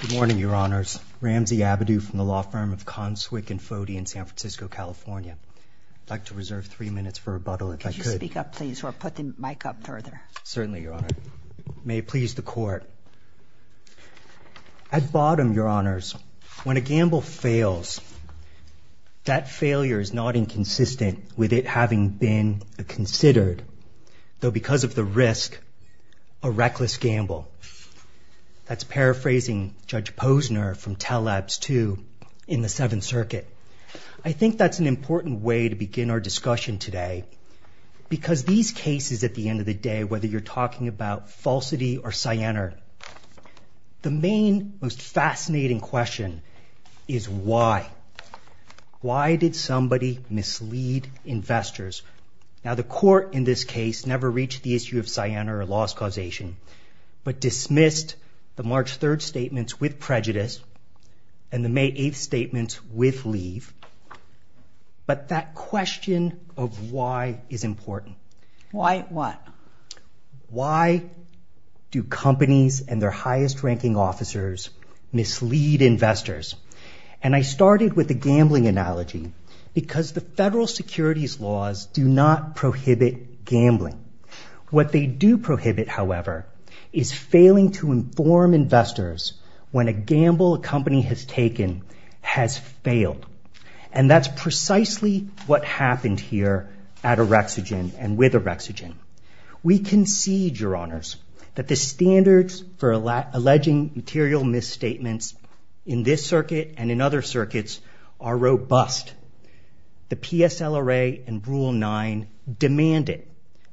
Good morning, Your Honors. Ramsey Abadou from the law firm of Conswick & Fodey in San Francisco, California. I'd like to reserve three minutes for rebuttal, if I could. Could you speak up, please, or put the mic up further? Certainly, Your Honor. May it please the Court. At bottom, Your Honors, when a gamble fails, that failure is not inconsistent with it having been considered, though because of the risk, a reckless gamble. That's paraphrasing Judge Posner from Teleps II in the Seventh Circuit. I think that's an important way to begin our discussion today because these cases, at the end of the day, whether you're talking about falsity or Siena, the main, most fascinating question is why. Why did somebody mislead investors? Now, the Court in this case never reached the issue of Siena or loss causation but dismissed the March 3rd statements with prejudice and the May 8th statements with leave. But that question of why is important. Why what? Why do companies and their highest-ranking officers mislead investors? And I started with the gambling analogy because the federal securities laws do not prohibit gambling. What they do prohibit, however, is failing to inform investors when a gamble a company has taken has failed. And that's precisely what happened here at Orexogen and with Orexogen. We concede, Your Honors, that the standards for alleging material misstatements in this circuit and in other circuits are robust. The PSLRA and Rule 9 demand it.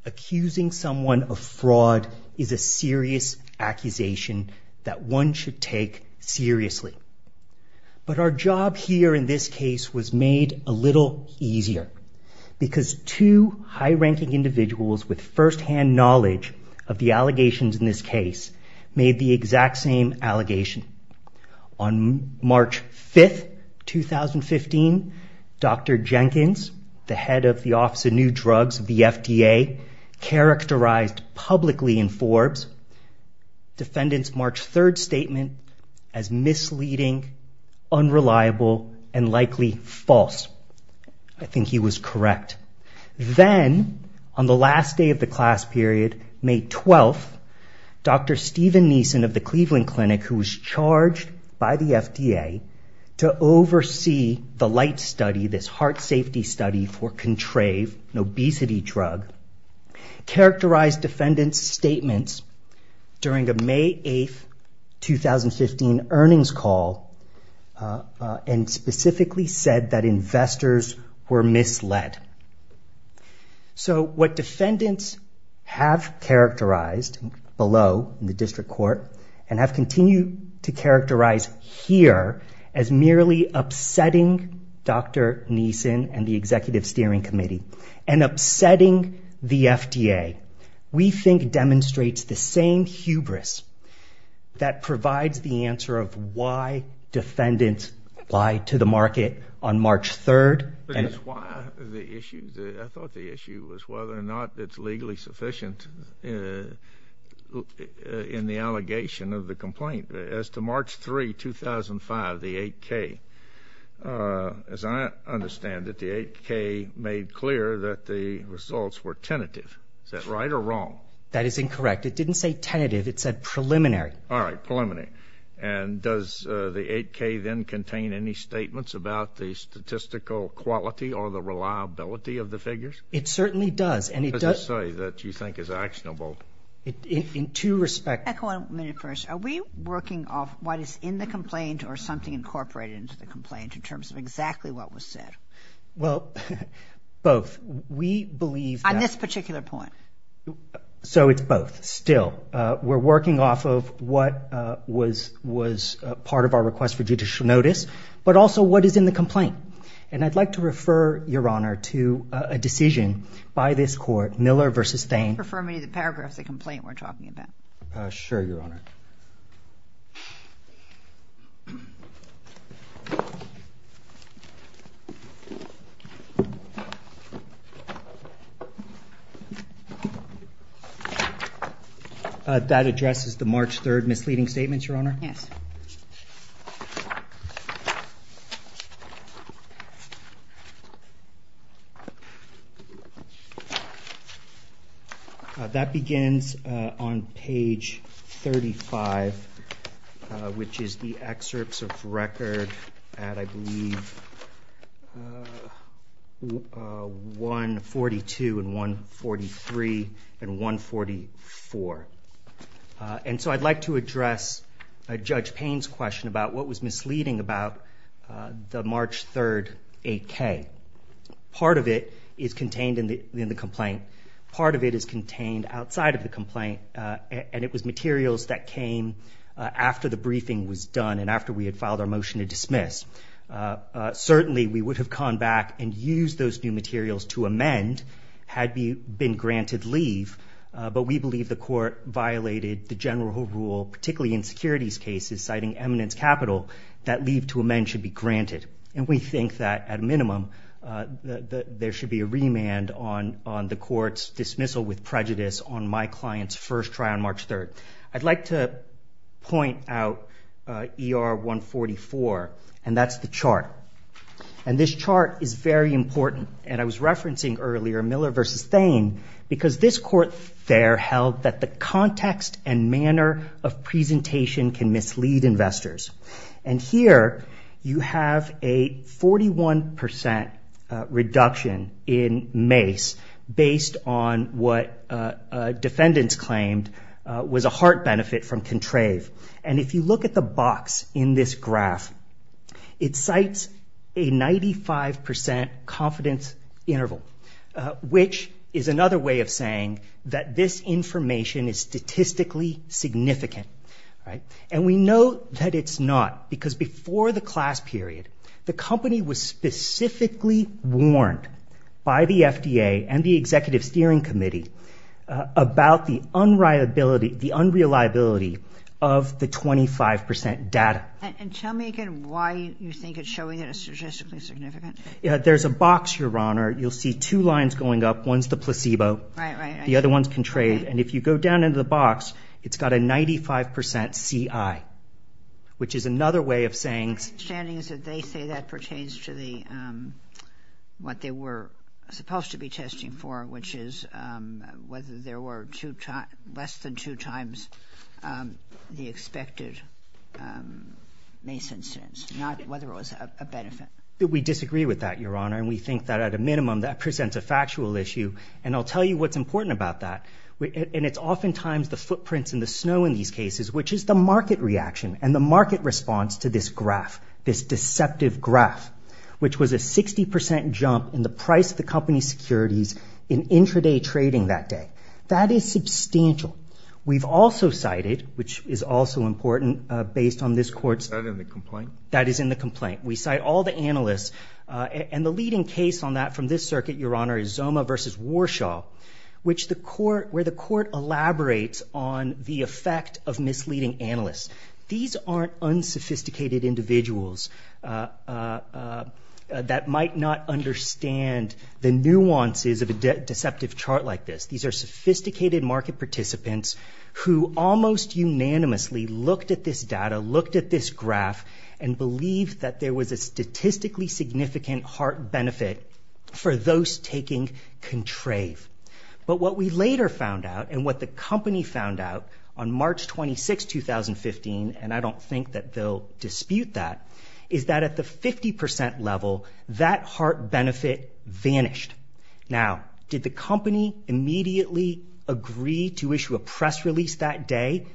Accusing someone of fraud is a serious accusation that one should take seriously. But our job here in this case was made a little easier because two high-ranking individuals with firsthand knowledge of the allegations in this case made the exact same allegation. On March 5th, 2015, Dr. Jenkins, the head of the Office of New Drugs of the FDA, characterized publicly in Forbes Defendant's March 3rd statement as misleading, unreliable, and likely false. I think he was correct. Then, on the last day of the class period, May 12th, Dr. Stephen Neeson of the Cleveland Clinic, who was charged by the FDA to oversee the LIGHT study, this heart safety study for Contrave, an obesity drug, characterized defendants' statements during a May 8th, 2015, earnings call and specifically said that investors were misled. So what defendants have characterized below in the district court and have continued to characterize here as merely upsetting Dr. Neeson and the Executive Steering Committee and upsetting the FDA, we think demonstrates the same hubris that provides the answer of why defendants lied to the market on March 3rd. But is why the issue? I thought the issue was whether or not it's legally sufficient in the allegation of the complaint. As to March 3, 2005, the 8K, as I understand it, the 8K made clear that the results were tentative. Is that right or wrong? That is incorrect. It didn't say tentative. It said preliminary. All right. Preliminary. And does the 8K then contain any statements about the statistical quality or the reliability of the figures? It certainly does. Does it say that you think it's actionable? In two respects. Can I go on a minute first? Are we working off what is in the complaint or something incorporated into the complaint in terms of exactly what was said? Well, both. We believe that. On this particular point? So it's both still. We're working off of what was part of our request for judicial notice but also what is in the complaint. And I'd like to refer, Your Honor, to a decision by this court, Miller v. Thain. Refer me to the paragraphs of the complaint we're talking about. Sure, Your Honor. That addresses the March 3rd misleading statements, Your Honor? Yes. That begins on page 35, which is the excerpts of record at, I believe, 142 and 143 and 144. And so I'd like to address Judge Payne's question about what was misleading about the March 3rd 8K. Part of it is contained in the complaint. And it was materials that came after the briefing was done and after we had filed our motion to dismiss. Certainly, we would have gone back and used those new materials to amend had it been granted leave. But we believe the court violated the general rule, particularly in securities cases, citing eminence capital, that leave to amend should be granted. And we think that, at a minimum, there should be a remand on the court's dismissal with prejudice on my client's first try on March 3rd. I'd like to point out ER 144. And that's the chart. And this chart is very important. And I was referencing earlier Miller v. Thain because this court there held that the context and manner of presentation can mislead investors. And here, you have a 41% reduction in MACE based on what defendants claimed was a heart benefit from Contrave. And if you look at the box in this graph, it cites a 95% confidence interval, which is another way of saying that this information is statistically significant. And we know that it's not because before the class period, the company was specifically warned by the FDA and the Executive Steering Committee about the unreliability of the 25% data. And tell me again why you think it's showing it as statistically significant. There's a box, Your Honor. You'll see two lines going up. One's the placebo. The other one's Contrave. And if you go down into the box, it's got a 95% CI, which is another way of saying that they say that pertains to what they were supposed to be testing for, which is whether there were less than two times the expected MACE incidence, not whether it was a benefit. We disagree with that, Your Honor. And we think that at a minimum, that presents a factual issue. And I'll tell you what's important about that. And it's oftentimes the footprints in the snow in these cases, which is the market reaction and the market response to this graph, this deceptive graph, which was a 60% jump in the price of the company's securities in intraday trading that day. That is substantial. We've also cited, which is also important, based on this court's- Is that in the complaint? That is in the complaint. We cite all the analysts. And the leading case on that from this circuit, Your Honor, is Zoma v. Warshaw, where the court elaborates on the effect of misleading analysts. These aren't unsophisticated individuals that might not understand the nuances of a deceptive chart like this. These are sophisticated market participants who almost unanimously looked at this data, looked at this graph, and believed that there was a statistically significant heart benefit for those taking Contrave. But what we later found out and what the company found out on March 26, 2015, and I don't think that they'll dispute that, is that at the 50% level, that heart benefit vanished. Now, did the company immediately agree to issue a press release that day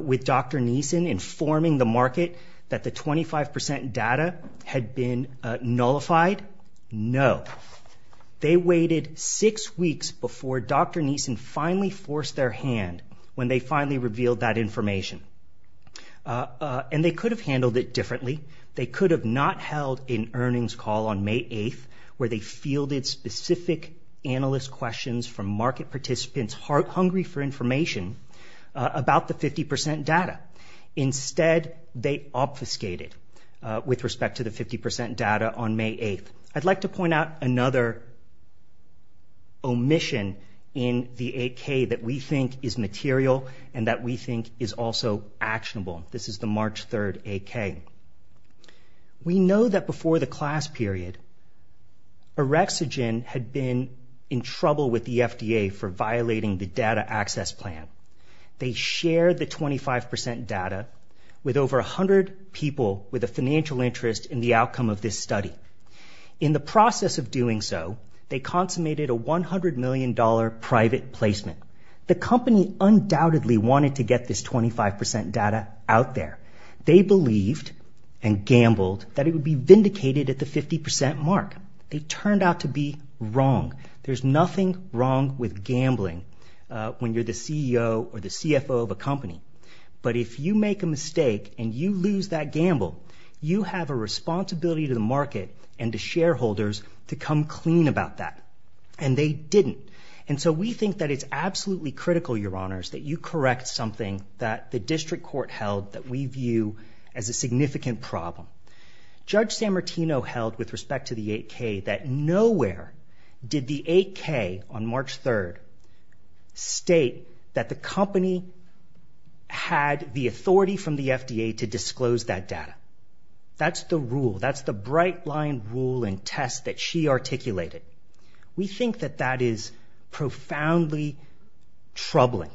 with Dr. Neeson informing the market that the 25% data had been nullified? No. They waited six weeks before Dr. Neeson finally forced their hand when they finally revealed that information. And they could have handled it differently. They could have not held an earnings call on May 8th where they fielded specific analyst questions from market participants hungry for information about the 50% data. Instead, they obfuscated with respect to the 50% data on May 8th. I'd like to point out another omission in the 8K that we think is material and that we think is also actionable. This is the March 3rd 8K. We know that before the class period, Orexogen had been in trouble with the FDA for violating the data access plan. They shared the 25% data with over 100 people with a financial interest in the outcome of this study. In the process of doing so, they consummated a $100 million private placement. The company undoubtedly wanted to get this 25% data out there. They believed and gambled that it would be vindicated at the 50% mark. It turned out to be wrong. There's nothing wrong with gambling when you're the CEO or the CFO of a company. But if you make a mistake and you lose that gamble, you have a responsibility to the market and to shareholders to come clean about that, and they didn't. And so we think that it's absolutely critical, Your Honors, that you correct something that the district court held that we view as a significant problem. Judge Sammartino held with respect to the 8K that nowhere did the 8K on March 3rd state that the company had the authority from the FDA to disclose that data. That's the rule. That's the bright-line rule and test that she articulated. We think that that is profoundly troubling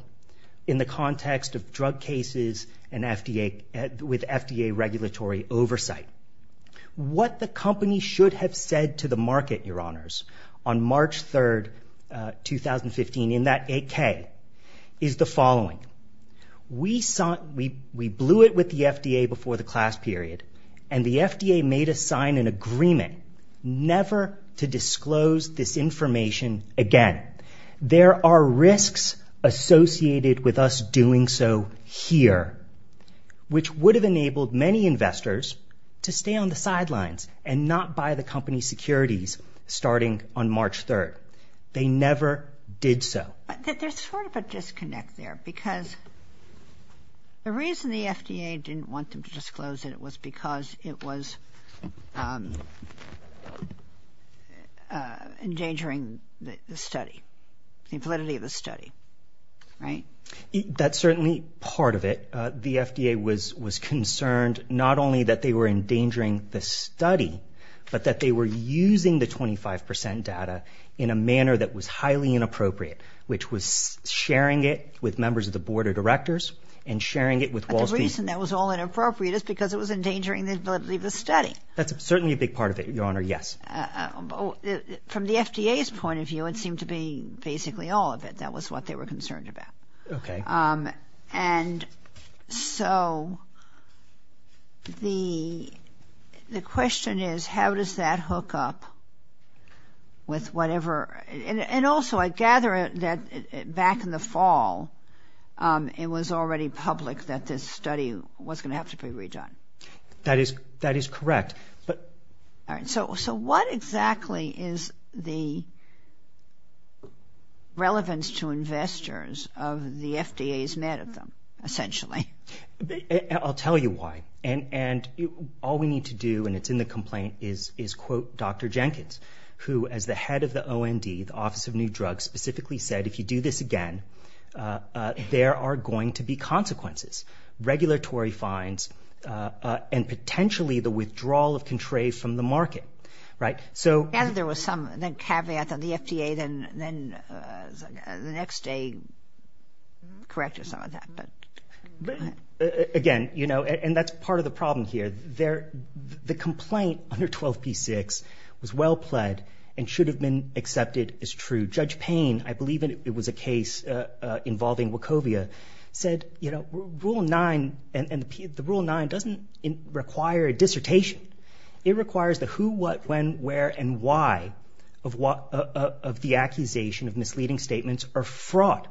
in the context of drug cases and FDA... with FDA regulatory oversight. What the company should have said to the market, Your Honors, on March 3rd, 2015, in that 8K, is the following. We blew it with the FDA before the class period, and the FDA made us sign an agreement never to disclose this information again. There are risks associated with us doing so here, which would have enabled many investors to stay on the sidelines and not buy the company's securities starting on March 3rd. They never did so. But there's sort of a disconnect there because the reason the FDA didn't want them to disclose it was because it was endangering the study, the validity of the study, right? That's certainly part of it. The FDA was concerned not only that they were endangering the study, but that they were using the 25% data in a manner that was highly inappropriate, which was sharing it with members of the board of directors and sharing it with Wall Street. But the reason that was all inappropriate is because it was endangering the validity of the study. That's certainly a big part of it, Your Honor, yes. From the FDA's point of view, it seemed to be basically all of it. That was what they were concerned about. Okay. And so the question is, how does that hook up with whatever? And also, I gather that back in the fall, it was already public that this study was going to have to be redone. That is correct. So what exactly is the relevance to investors of the FDA's met of them, essentially? I'll tell you why. And all we need to do, and it's in the complaint, is quote Dr. Jenkins, who, as the head of the OND, the Office of New Drugs, specifically said, if you do this again, there are going to be consequences. regulatory fines, and potentially the withdrawal of Contre from the market. Right? I gather there was some caveat that the FDA then the next day corrected some of that. Again, you know, and that's part of the problem here. The complaint under 12p6 was well pled and should have been accepted as true. Judge Payne, I believe it was a case involving Wachovia, said, you know, Rule 9, and the Rule 9 doesn't require a dissertation. It requires the who, what, when, where, and why of the accusation of misleading statements or fraud.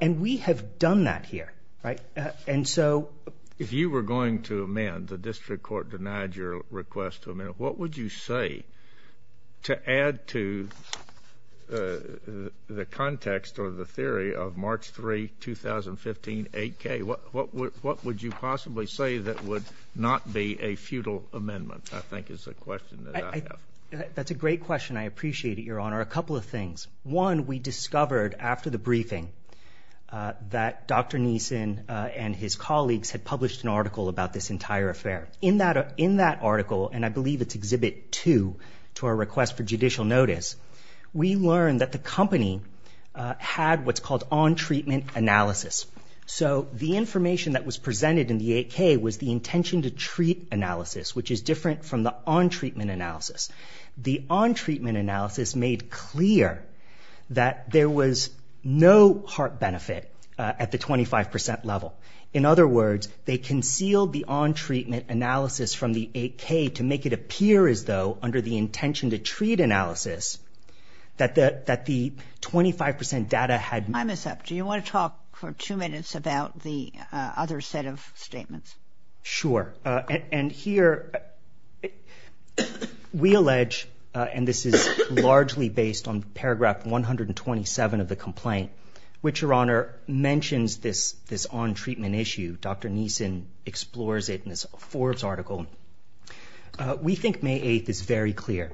And we have done that here. And so... If you were going to amend, the district court denied your request to amend it, what would you say to add to the context or the theory of March 3, 2015, 8K? What would you possibly say that would not be a futile amendment, I think is the question that I have. That's a great question. I appreciate it, Your Honor. A couple of things. One, we discovered after the briefing that Dr. Neeson and his colleagues had published an article about this entire affair. In that article, and I believe it's Exhibit 2 to our request for judicial notice, we learned that the company had what's called on-treatment analysis. So the information that was presented in the 8K was the intention-to-treat analysis, which is different from the on-treatment analysis. The on-treatment analysis made clear that there was no heart benefit at the 25% level. In other words, they concealed the on-treatment analysis from the 8K to make it appear as though, under the intention-to-treat analysis, that the 25% data had... Time is up. Do you want to talk for two minutes about the other set of statements? Sure. And here, we allege, and this is largely based on Paragraph 127 of the complaint, which, Your Honor, mentions this on-treatment issue. Dr. Neeson explores it in this Forbes article. We think May 8th is very clear,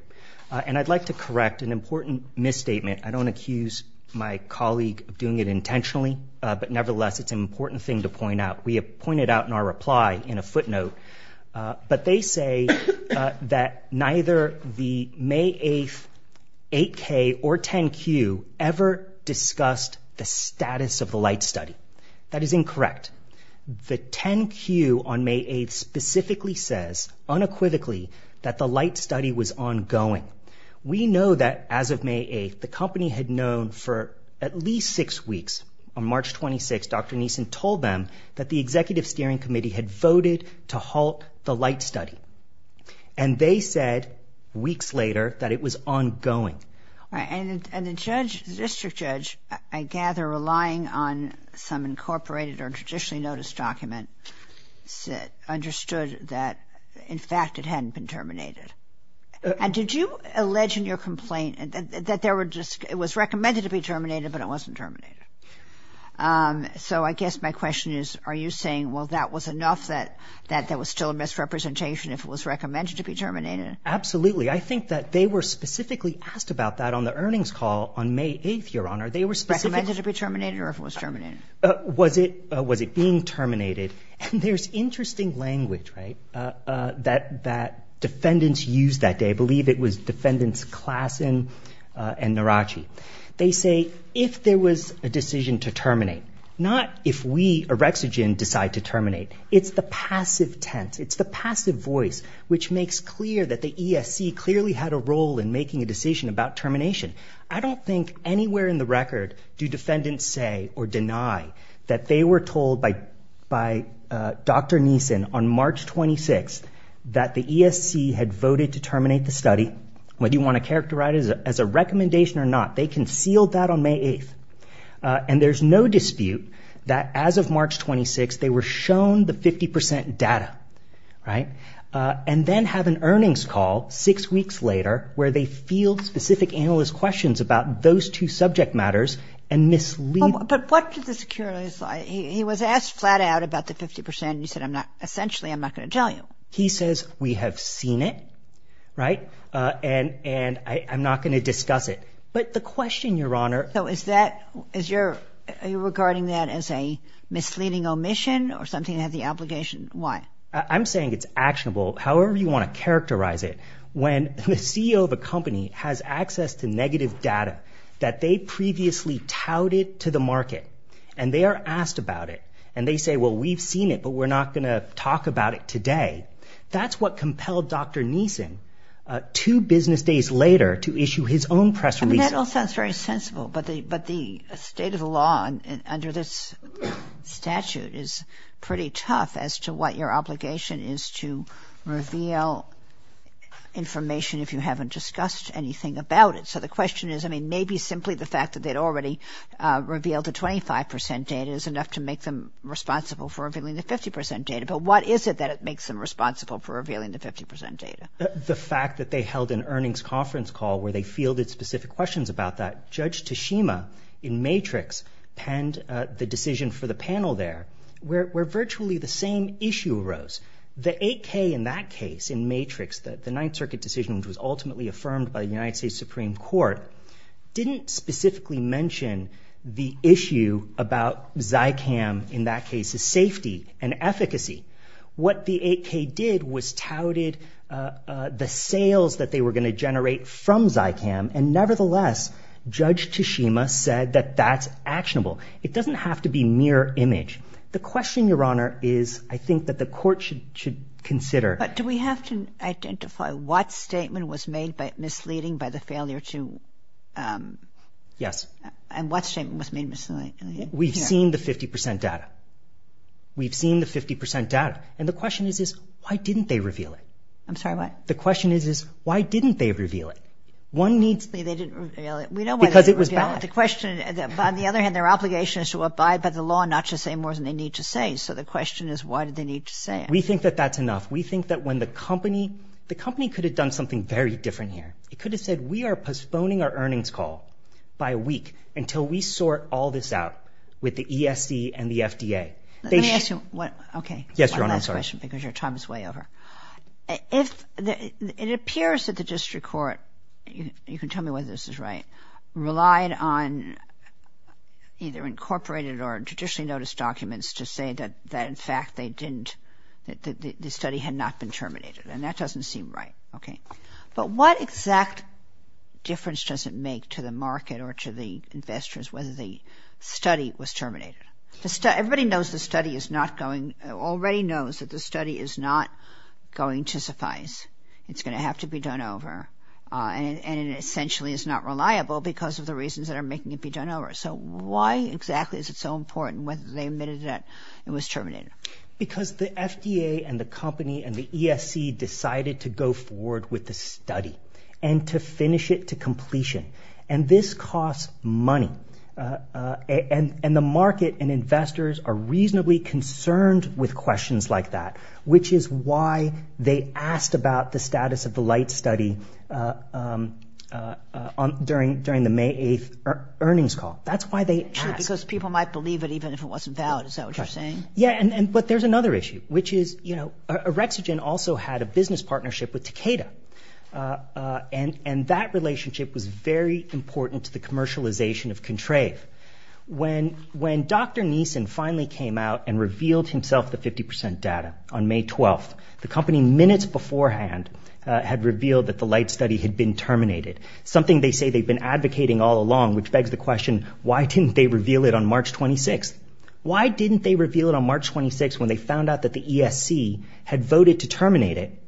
and I'd like to correct an important misstatement. I don't accuse my colleague of doing it intentionally, but nevertheless, it's an important thing to point out. We have pointed out in our reply in a footnote, but they say that neither the May 8th 8K or 10Q ever discussed the status of the light study. That is incorrect. The 10Q on May 8th specifically says, unequivocally, that the light study was ongoing. We know that, as of May 8th, the company had known for at least six weeks. On March 26th, Dr. Neeson told them that the Executive Steering Committee had voted to halt the light study, and they said, weeks later, that it was ongoing. All right, and the judge, the district judge, I gather, relying on some incorporated or traditionally noticed document, understood that, in fact, it hadn't been terminated. And did you allege in your complaint that it was recommended to be terminated, but it wasn't terminated? So I guess my question is, are you saying, well, that was enough that that was still a misrepresentation if it was recommended to be terminated? I think that they were specifically asked about that on the earnings call on May 8th, Your Honor. They were specifically... Recommended to be terminated, or if it was terminated? Was it being terminated? And there's interesting language, right, that defendants used that day. I believe it was defendants Klassen and Narachi. They say, if there was a decision to terminate, not if we, Erexigen, decide to terminate. It's the passive tense. It's the passive voice which makes clear that the ESC clearly had a role in making a decision about termination. I don't think anywhere in the record do defendants say or deny that they were told by Dr. Neeson on March 26th that the ESC had voted to terminate the study, whether you want to characterize it as a recommendation or not. They concealed that on May 8th. And there's no dispute that as of March 26th, they were shown the 50% data, right? And then have an earnings call six weeks later where they field specific analyst questions about those two subject matters and mislead... But what did the security... He was asked flat out about the 50% and he said, essentially, I'm not going to tell you. He says, we have seen it, right, and I'm not going to discuss it. But the question, Your Honor... So is that... Are you regarding that as a misleading omission or something that has the obligation? Why? I'm saying it's actionable, however you want to characterize it. When the CEO of a company has access to negative data that they previously touted to the market and they are asked about it, and they say, well, we've seen it, but we're not going to talk about it today, that's what compelled Dr. Neeson two business days later to issue his own press release. That all sounds very sensible, but the state of the law under this statute is pretty tough as to what your obligation is to reveal information if you haven't discussed anything about it. So the question is, maybe simply the fact that they'd already revealed the 25% data is enough to make them responsible for revealing the 50% data, but what is it that makes them responsible for revealing the 50% data? The fact that they held an earnings conference call where they fielded specific questions about that. Judge Tashima in Matrix penned the decision for the panel there where virtually the same issue arose. The 8K in that case, in Matrix, the Ninth Circuit decision, which was ultimately affirmed by the United States Supreme Court, didn't specifically mention the issue about Zycam in that case's safety and efficacy. What the 8K did was touted the sales that they were going to generate from Zycam, and nevertheless, Judge Tashima said It doesn't have to be mere image. The question, Your Honor, is I think that the court should consider But do we have to identify what statement was made misleading by the failure to... Yes. And what statement was made misleading? We've seen the 50% data. We've seen the 50% data. And the question is, why didn't they reveal it? I'm sorry, what? The question is, why didn't they reveal it? They didn't reveal it. We know why they didn't reveal it. Because it was bad. On the other hand, their obligation is to abide by the law and not to say more than they need to say. So the question is, why did they need to say it? We think that that's enough. We think that when the company... The company could have done something very different here. It could have said, we are postponing our earnings call by a week until we sort all this out with the ESC and the FDA. Let me ask you one... Okay. Yes, Your Honor, I'm sorry. One last question, because your time is way over. It appears that the district court, you can tell me whether this is right, relied on either incorporated or traditionally noticed documents to say that in fact they didn't... the study had not been terminated. And that doesn't seem right. Okay. But what exact difference does it make to the market or to the investors whether the study was terminated? Everybody knows the study is not going... already knows that the study is not going to suffice. It's going to have to be done over. And it essentially is not reliable because of the reasons that are making it be done over. So why exactly is it so important whether they admitted that it was terminated? Because the FDA and the company and the ESC decided to go forward with the study and to finish it to completion. And this costs money. And the market and investors are reasonably concerned with questions like that, which is why they asked about the status of the light study during the May 8th earnings call. That's why they asked. Because people might believe it even if it wasn't valid. Is that what you're saying? Yeah, but there's another issue, which is, you know, Orexogen also had a business partnership with Takeda. And that relationship was very important to the commercialization of Contrave. When Dr. Neeson finally came out and revealed himself the 50% data on May 12th, the company minutes beforehand had revealed that the light study had been terminated, something they say they've been advocating all along, which begs the question, why didn't they reveal it on March 26th? Why didn't they reveal it on March 26th when they found out that the ESC had voted to terminate it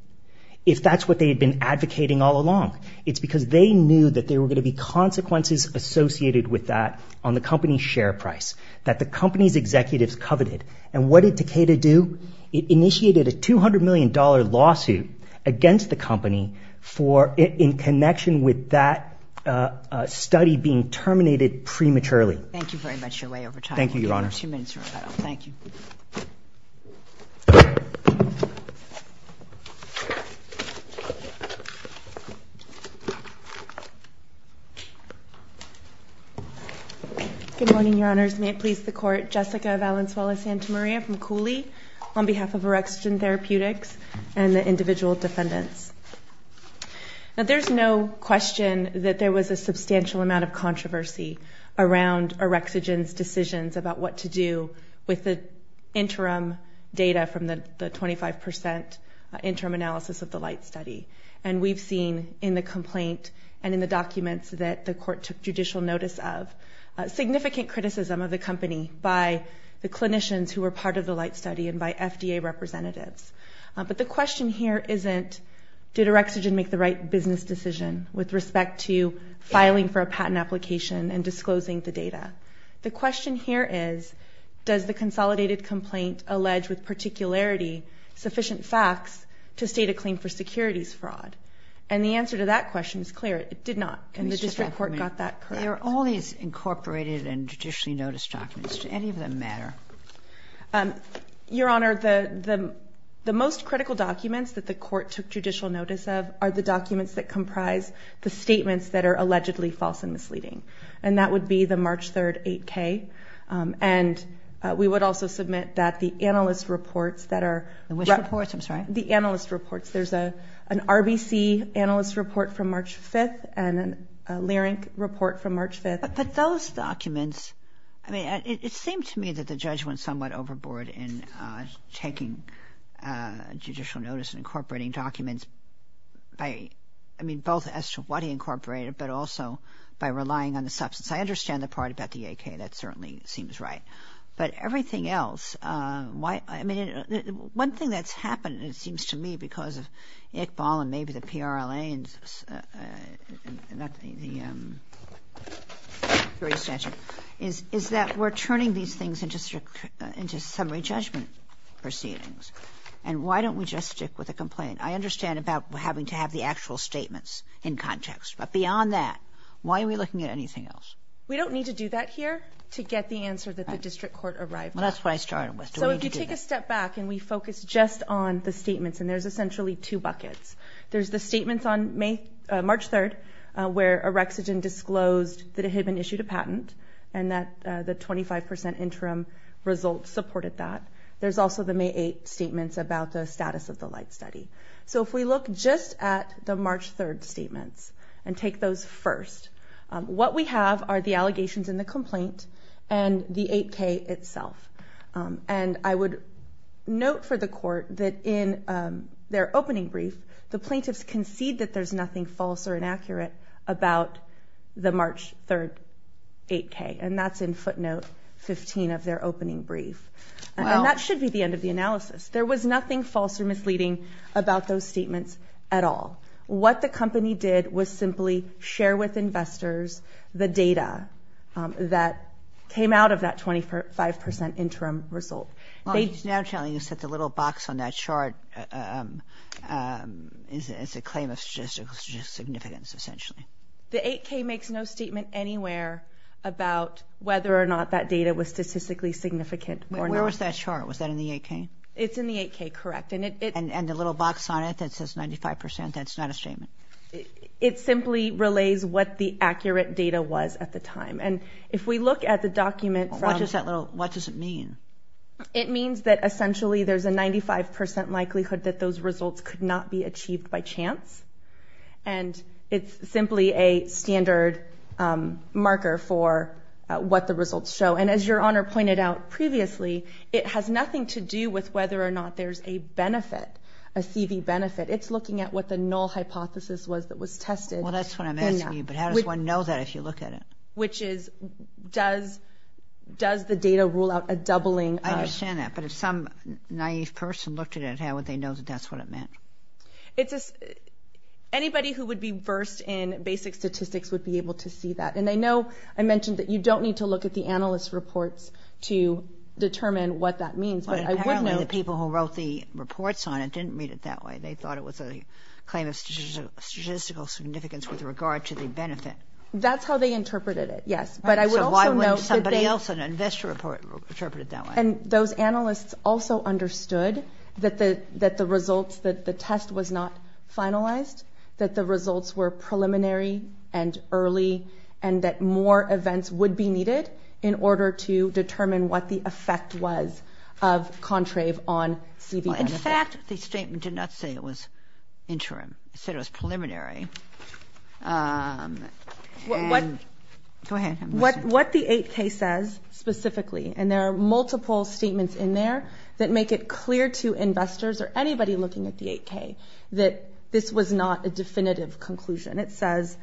if that's what they had been advocating all along? It's because they knew that there were going to be consequences associated with that on the company's share price, that the company's executives coveted. And what did Takeda do? It initiated a $200 million lawsuit against the company in connection with that study being terminated prematurely. Thank you very much. You're way over time. Thank you, Your Honor. You have two minutes. Thank you. Good morning, Your Honors. May it please the Court. Jessica Valenzuela-Santamaria from Cooley on behalf of Erextrin Therapeutics and the individual defendants. Now there's no question that there was a substantial amount of controversy around Erextrin's decisions about what to do with the interim data from the 25% interim analysis of the Light Study. And we've seen in the complaint and in the documents that the Court took judicial notice of significant criticism of the company by the clinicians who were part of the Light Study and by FDA representatives. But the question here isn't did Erextrin make the right business decision with respect to filing for a patent application and disclosing the data. The question here is does the consolidated complaint allege with particularity sufficient facts to state a claim for securities fraud? And the answer to that question is clear. It did not. And the district court got that correct. There are all these incorporated and judicially noticed documents. Do any of them matter? Your Honor, the most critical documents that the Court took judicial notice of are the documents that comprise the statements that are allegedly false and misleading. And that would be the March 3rd 8K. And we would also submit that the analyst reports that are... The WISH reports, I'm sorry. The analyst reports. There's an RBC analyst report from March 5th and a LIRINC report from March 5th. But those documents... I mean, it seemed to me that the judge went somewhat overboard in taking judicial notice and incorporating documents by... I mean, both as to what he incorporated but also by relying on the substance. I understand the part about the 8K. That certainly seems right. But everything else, why... I mean, one thing that's happened and it seems to me because of Iqbal and maybe the PRLA and not the jury statute is that we're turning these things into summary judgment proceedings. And why don't we just stick with the complaint? I understand about having to have the actual statements in context. But beyond that, why are we looking at anything else? We don't need to do that here to get the answer that the district court arrived at. Well, that's what I started with. So if you take a step back and we focus just on the statements and there's essentially two buckets. There's the statements on March 3rd where Orexogen disclosed that it had been issued a patent and that the 25% interim results supported that. There's also the May 8th statements about the status of the light study. So if we look just at the March 3rd statements and take those first, what we have are the allegations in the complaint and the 8K itself. And I would note for the court that in their opening brief, the plaintiffs concede that there's nothing false or inaccurate about the March 3rd 8K. And that's in footnote 15 of their opening brief. And that should be the end of the analysis. There was nothing false or misleading about those statements at all. What the company did was simply share with investors the data that came out of that 25% interim result. Well, it's now telling us that the little box on that chart is a claim of statistical significance, essentially. The 8K makes no statement anywhere about whether or not that data was statistically significant or not. Where was that chart? Was that in the 8K? It's in the 8K, correct. And the little box on it that says 95%, that's not a statement? It simply relays what the accurate data was at the time. And if we look at the document from... What does that little... What does it mean? It means that essentially there's a 95% likelihood that those results could not be achieved by chance. And it's simply a standard marker for what the results show. And as Your Honor pointed out previously, it has nothing to do with whether or not there's a benefit, a CV benefit. It's looking at what the null hypothesis was that was tested. Well, that's what I'm asking you, but how does one know that if you look at it? Which is, does the data rule out a doubling of... I understand that, but if some naive person looked at it, how would they know that that's what it meant? It's a... Anybody who would be versed in basic statistics would be able to see that. And I know I mentioned that you don't need to look at the analyst reports to determine what that means, but I would know... But apparently the people who wrote the reports on it didn't read it that way. They thought it was a claim of statistical significance with regard to the benefit. That's how they interpreted it, yes. But I would also note that they... So why wouldn't somebody else in an investor report interpret it that way? And those analysts also understood that the results, that the test was not finalized, that the results were preliminary and early, and that more events would be needed in order to determine what the effect was of Contrave on CV benefit. In fact, the statement did not say it was interim. It said it was preliminary. Go ahead. What the 8K says specifically, and there are multiple statements in there that make it clear to investors or anybody looking at the 8K that this was not a definitive conclusion. It says,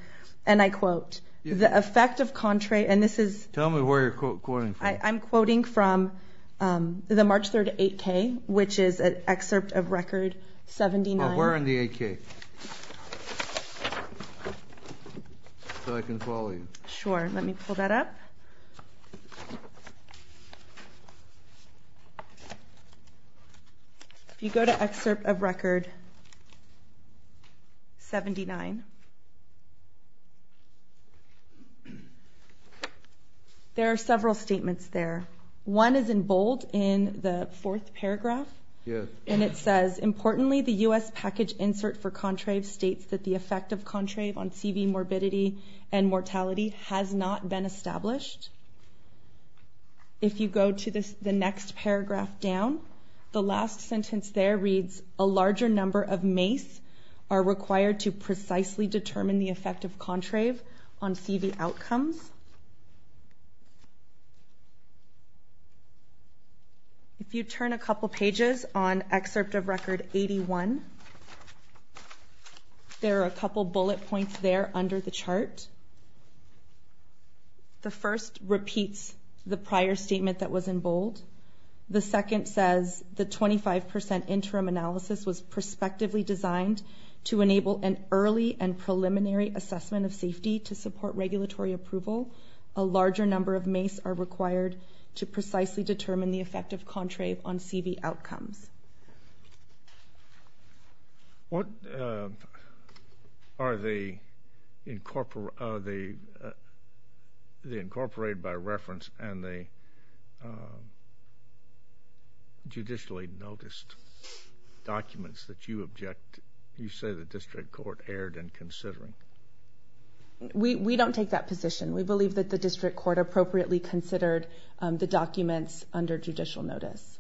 and I quote, the effect of Contra... Tell me where you're quoting from. I'm quoting from the March 3rd 8K, which is an excerpt of Record 79. Where in the 8K? So I can follow you. Sure, let me pull that up. If you go to excerpt of Record 79, there are several statements there. One is in bold in the fourth paragraph, and it says, Importantly, the U.S. package insert for Contrave states that the effect of Contrave on CV morbidity and mortality has not been established. If you go to the next paragraph down, the last sentence there reads, A larger number of MACE are required to precisely determine the effect of Contrave on CV outcomes. If you turn a couple pages on excerpt of Record 81, there are a couple bullet points there under the chart. The first repeats the prior statement that was in bold. The second says the 25% interim analysis was prospectively designed to enable an early and preliminary assessment of safety to support regulatory approval. A larger number of MACE are required to precisely determine the effect of Contrave on CV outcomes. What are the incorporated by reference and the judicially noticed documents that you say the district court erred in considering? We don't take that position. We believe that the district court appropriately considered the documents under judicial notice.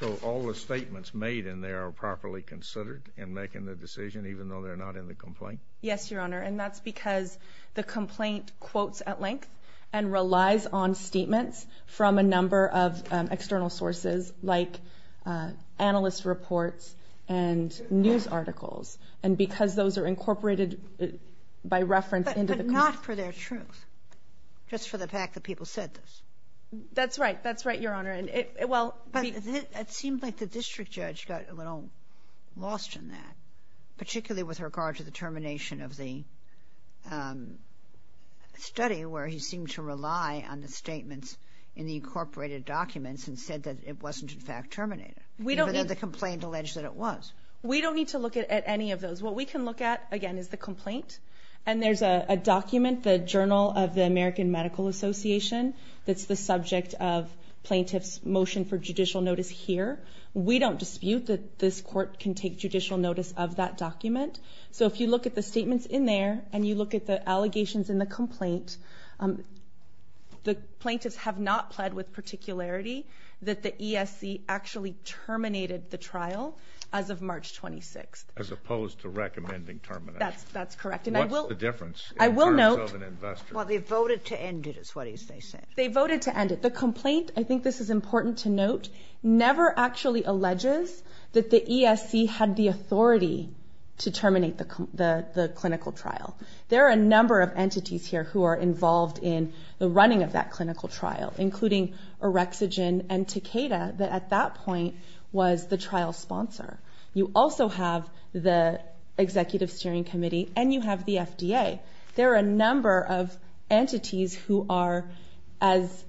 So all the statements made in there are properly considered in making the decision even though they're not in the complaint? Yes, Your Honor, and that's because the complaint quotes at length and relies on statements from a number of external sources like analyst reports and news articles, and because those are incorporated by reference into the complaint. But not for their truth, just for the fact that people said this. That's right. That's right, Your Honor. It seems like the district judge got a little lost in that, particularly with regard to the termination of the study where he seemed to rely on the statements in the incorporated documents and said that it wasn't in fact terminated, even though the complaint alleged that it was. We don't need to look at any of those. What we can look at, again, is the complaint, and there's a document, the Journal of the American Medical Association, that's the subject of plaintiff's motion for judicial notice here. We don't dispute that this court can take judicial notice of that document. So if you look at the statements in there and you look at the allegations in the complaint, the plaintiffs have not pled with particularity that the ESC actually terminated the trial as of March 26th. As opposed to recommending termination. That's correct. What's the difference in terms of an investor? Well, they voted to end it, is what they said. They voted to end it. The complaint, I think this is important to note, never actually alleges that the ESC had the authority to terminate the clinical trial. There are a number of entities here who are involved in the running of that clinical trial, including Orexogen and Takeda, that at that point was the trial sponsor. You also have the Executive Steering Committee and you have the FDA. There are a number of entities who are, as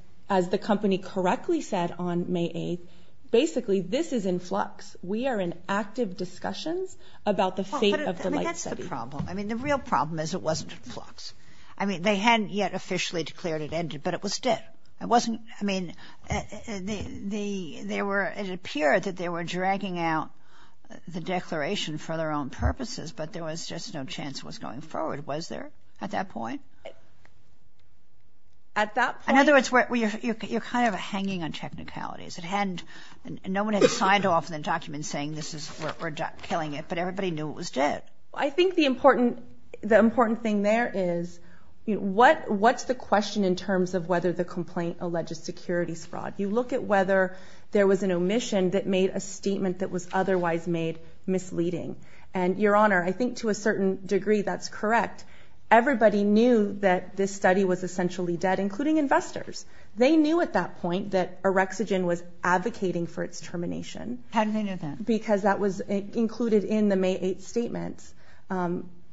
the company correctly said on May 8th, basically, this is in flux. We are in active discussions about the fate of the light study. That's the problem. I mean, the real problem is it wasn't in flux. I mean, they hadn't yet officially declared it ended, but it was dead. It wasn't, I mean, it appeared that they were dragging out the declaration for their own purposes, but there was just no chance it was going forward. Was there at that point? At that point? In other words, you're kind of hanging on technicalities. No one had signed off on the document saying, this is, we're killing it, but everybody knew it was dead. I think the important thing there is, what's the question in terms of whether the complaint alleges securities fraud? You look at whether there was an omission that made a statement that was otherwise made misleading. And, Your Honor, I think to a certain degree that's correct. Everybody knew that this study was essentially dead, including investors. They knew at that point that Erexogen was advocating for its termination. How did they know that? Because that was included in the May 8th statement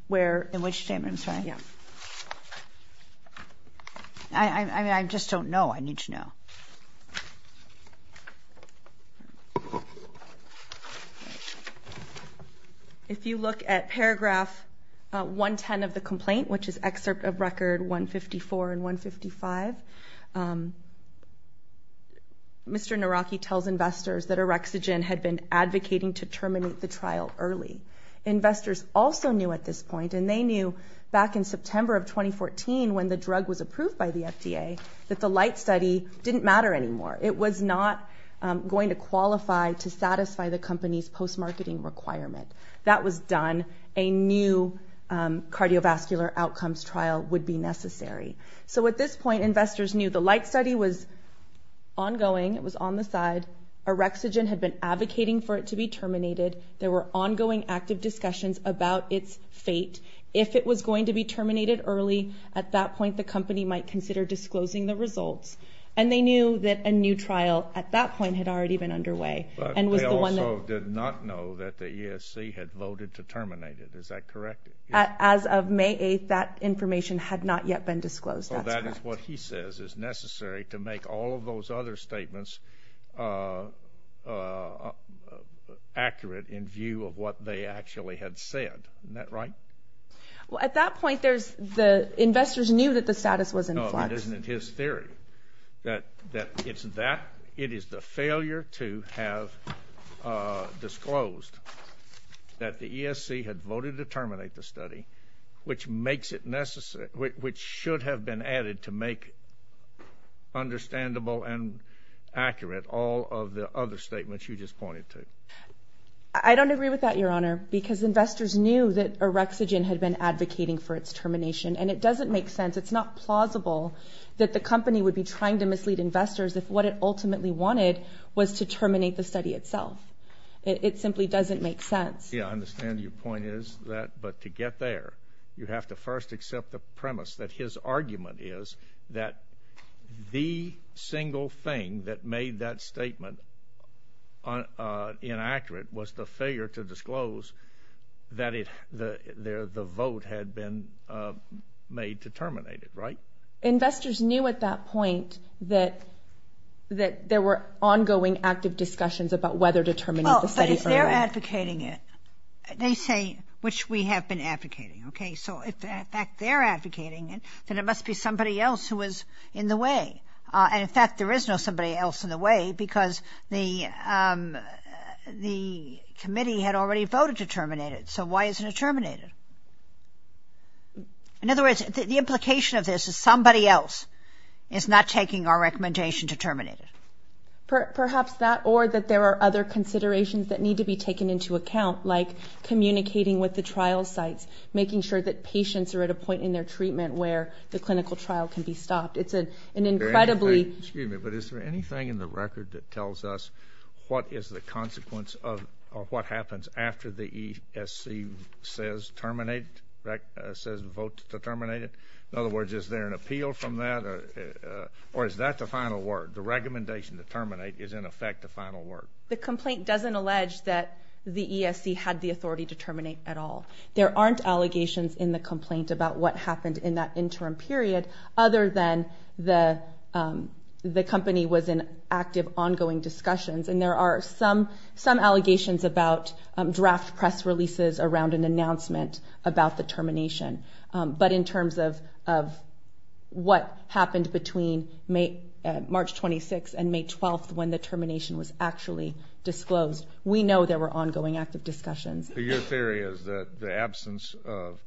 where... In which statement? I'm sorry. Yeah. I mean, I just don't know. I need to know. If you look at paragraph 110 of the complaint, which is excerpt of record 154 and 155, Mr. Naraki tells investors that Erexogen had been advocating to terminate the trial early. Investors also knew at this point, and they knew back in September of 2014 when the drug was approved by the FDA, that the light study didn't matter anymore. It was not going to qualify to satisfy the company's post-marketing requirement. That was done. A new cardiovascular outcomes trial would be necessary. So at this point, investors knew the light study was ongoing. It was on the side. Erexogen had been advocating for it to be terminated. There were ongoing active discussions about its fate. If it was going to be terminated early, at that point the company might consider disclosing the results. And they knew that a new trial at that point had already been underway and was the one that... But they also did not know that the ESC had voted to terminate it. Is that correct? As of May 8th, that information had not yet been disclosed. That's correct. So that is what he says is necessary to make all of those other statements accurate in view of what they actually had said. Isn't that right? Well, at that point, the investors knew that the status was in flux. No, it isn't. It's his theory. That it is the failure to have disclosed that the ESC had voted to terminate the study, which should have been added to make understandable and accurate all of the other statements you just pointed to. I don't agree with that, Your Honor, because investors knew that Erexogen had been advocating for its termination. And it doesn't make sense. It's not plausible that the company would be trying to mislead investors if what it ultimately wanted was to terminate the study itself. It simply doesn't make sense. Yeah, I understand your point is that. But to get there, you have to first accept the premise that his argument is that the single thing that made that statement inaccurate was the failure to disclose that the vote had been made to terminate it, right? Investors knew at that point that there were ongoing active discussions about whether to terminate the study. But if they're advocating it, they say, which we have been advocating, okay? So if in fact they're advocating it, then it must be somebody else who was in the way. And in fact, there is no somebody else in the way because the committee had already voted to terminate it. So why isn't it terminated? In other words, the implication of this is somebody else is not taking our recommendation to terminate it. Perhaps that or that there are other considerations that need to be taken into account, like communicating with the trial sites, making sure that patients are at a point in their treatment where the clinical trial can be stopped. It's an incredibly... Excuse me, but is there anything in the record that tells us what is the consequence of what happens after the ESC says vote to terminate it? In other words, is there an appeal from that? Or is that the final word? The recommendation to terminate is in effect the final word. The complaint doesn't allege that the ESC had the authority to terminate at all. There aren't allegations in the complaint about what happened in that interim period other than the company was in active, ongoing discussions. And there are some allegations about draft press releases around an announcement about the termination. But in terms of what happened between March 26th and May 12th when the termination was actually disclosed, we know there were ongoing, active discussions. Your theory is that the absence of...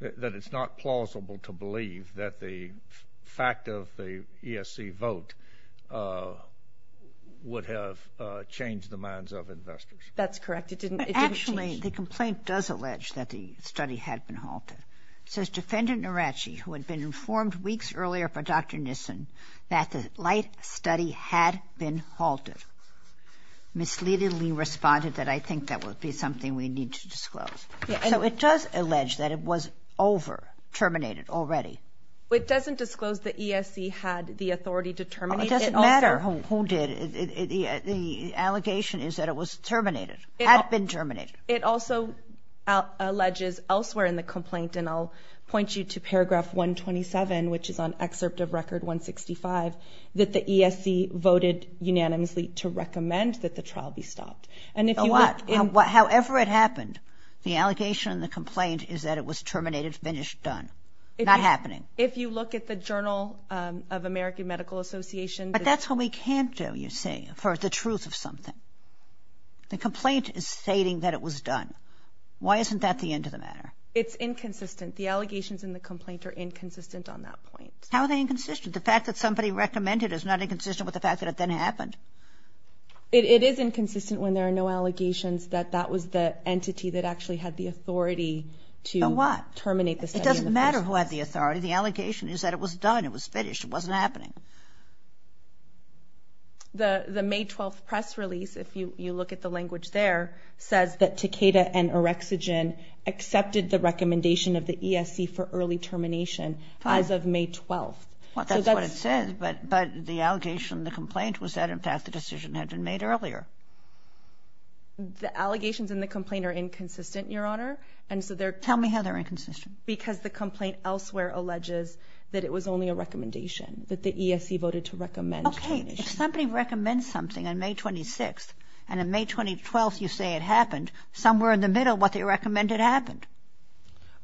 that it's not plausible to believe that the fact of the ESC vote would have changed the minds of investors. That's correct. Actually, the complaint does allege that the study had been halted. It says, Defendant Narachi, who had been informed weeks earlier by Dr. Nissen that the light study had been halted, misleadingly responded that, I think that would be something we need to disclose. So it does allege that it was over, terminated already. It doesn't disclose that ESC had the authority to terminate it. It doesn't matter who did. The allegation is that it was terminated, had been terminated. It also alleges elsewhere in the complaint, and I'll point you to Paragraph 127, which is on excerpt of Record 165, that the ESC voted unanimously to recommend that the trial be stopped. And if you look... However it happened, the allegation in the complaint is that it was terminated, finished, done. Not happening. If you look at the Journal of American Medical Association... But that's what we can't do, you see, for the truth of something. The complaint is stating that it was done. Why isn't that the end of the matter? It's inconsistent. The allegations in the complaint are inconsistent on that point. How are they inconsistent? The fact that somebody recommended it is not inconsistent with the fact that it then happened? It is inconsistent when there are no allegations that that was the entity that actually had the authority to terminate the study in the first place. It doesn't matter who had the authority. The allegation is that it was done, it was finished, it wasn't happening. The May 12th press release, if you look at the language there, says that Takeda and Orexogen accepted the recommendation of the ESC for early termination as of May 12th. That's what it says, but the allegation in the complaint was that, in fact, the decision had been made earlier. The allegations in the complaint are inconsistent, Your Honor. Tell me how they're inconsistent. Because the complaint elsewhere alleges that it was only a recommendation, that the ESC voted to recommend termination. Okay, if somebody recommends something on May 26th and on May 12th you say it happened, somewhere in the middle what they recommended happened.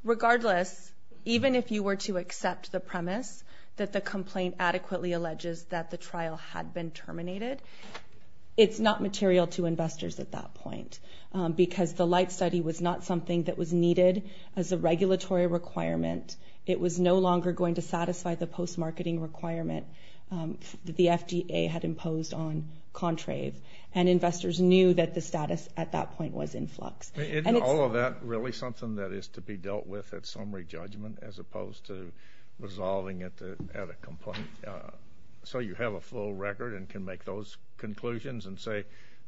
Regardless, even if you were to accept the premise that the complaint adequately alleges that the trial had been terminated, it's not material to investors at that point because the Light Study was not something that was needed as a regulatory requirement. It was no longer going to satisfy the post-marketing requirement that the FDA had imposed on Contrave, and investors knew that the status at that point was in flux. Isn't all of that really something that is to be dealt with at summary judgment as opposed to resolving it at a complaint so you have a full record and can make those conclusions and say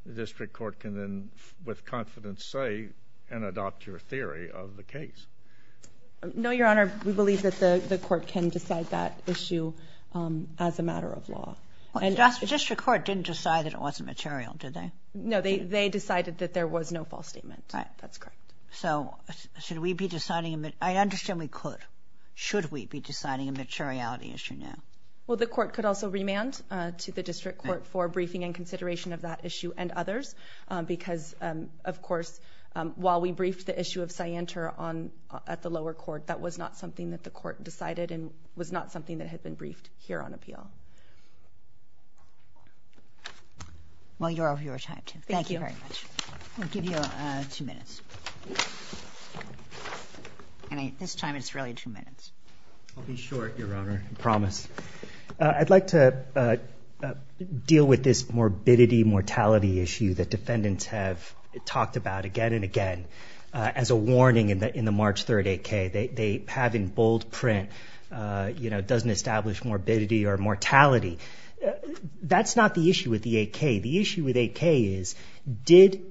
the district court can then with confidence say and adopt your theory of the case? No, Your Honor. We believe that the court can decide that issue as a matter of law. The district court didn't decide that it wasn't material, did they? No, they decided that there was no false statement. That's correct. So should we be deciding... I understand we could. Should we be deciding a materiality issue now? Well, the court could also remand to the district court for briefing and consideration of that issue and others because, of course, while we briefed the issue of Scienter at the lower court, that was not something that the court decided and was not something that had been briefed here on appeal. Well, you're of your time, too. Thank you very much. Thank you. I'll give you two minutes. This time it's really two minutes. I'll be short, Your Honor, I promise. I'd like to deal with this morbidity mortality issue that defendants have talked about again and again as a warning in the March 3rd 8K. They have in bold print, you know, doesn't establish morbidity or mortality. That's not the issue with the 8K. The issue with 8K is did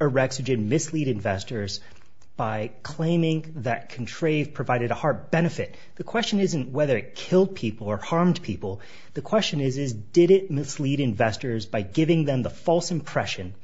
Erexogen mislead investors by claiming that Contrave provided a heart benefit? The question isn't whether it killed people or harmed people. The question is did it mislead investors by giving them the false impression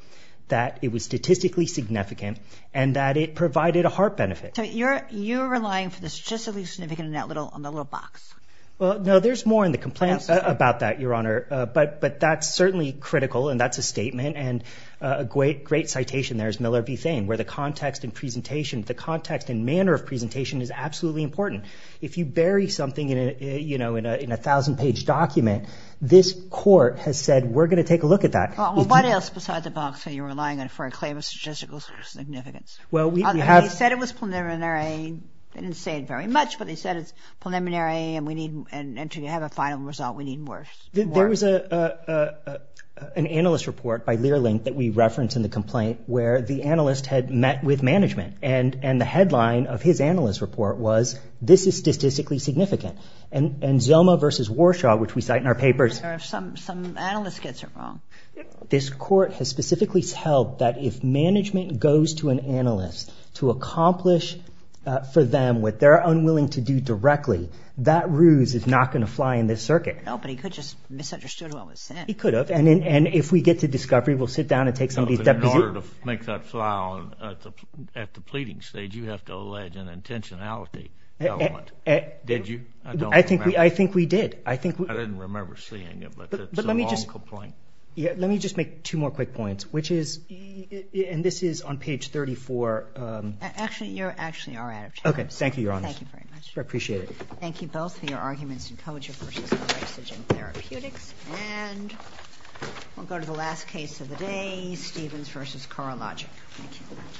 that it was statistically significant and that it provided a heart benefit. So you're relying for the statistically significant in that little box. Well, no, there's more in the complaint about that, Your Honor, but that's certainly critical and that's a statement and a great citation there is Miller v. Thain where the context and presentation, the context and manner of presentation is absolutely important. If you bury something, you know, in a 1,000-page document, this court has said we're going to take a look at that. Well, what else besides the box are you relying on for a claim of statistical significance? Well, we have... They said it was preliminary. They didn't say it very much, but they said it's preliminary and we need... and to have a final result, we need more. There was an analyst report by Learling that we referenced in the complaint where the analyst had met with management and the headline of his analyst report was this is statistically significant. And Zelma v. Warshaw, which we cite in our papers... Some analyst gets it wrong. This court has specifically held that if management goes to an analyst to accomplish for them what they're unwilling to do directly, that ruse is not going to fly in this circuit. No, but he could have just misunderstood what was said. He could have. And if we get to discovery, we'll sit down and take some of these deputies... In order to make that fly on at the pleading stage, you have to allege an intentionality element. Did you? I don't remember. I think we did. I didn't remember seeing it, but it's a long complaint. But let me just make two more quick points, which is... and this is on page 34. Actually, you actually are out of time. Okay, thank you, Your Honor. Thank you very much. I appreciate it. Thank you both for your arguments in Koja v. Horace in therapeutics. And we'll go to the last case of the day, Stevens v. Corologic. Thank you.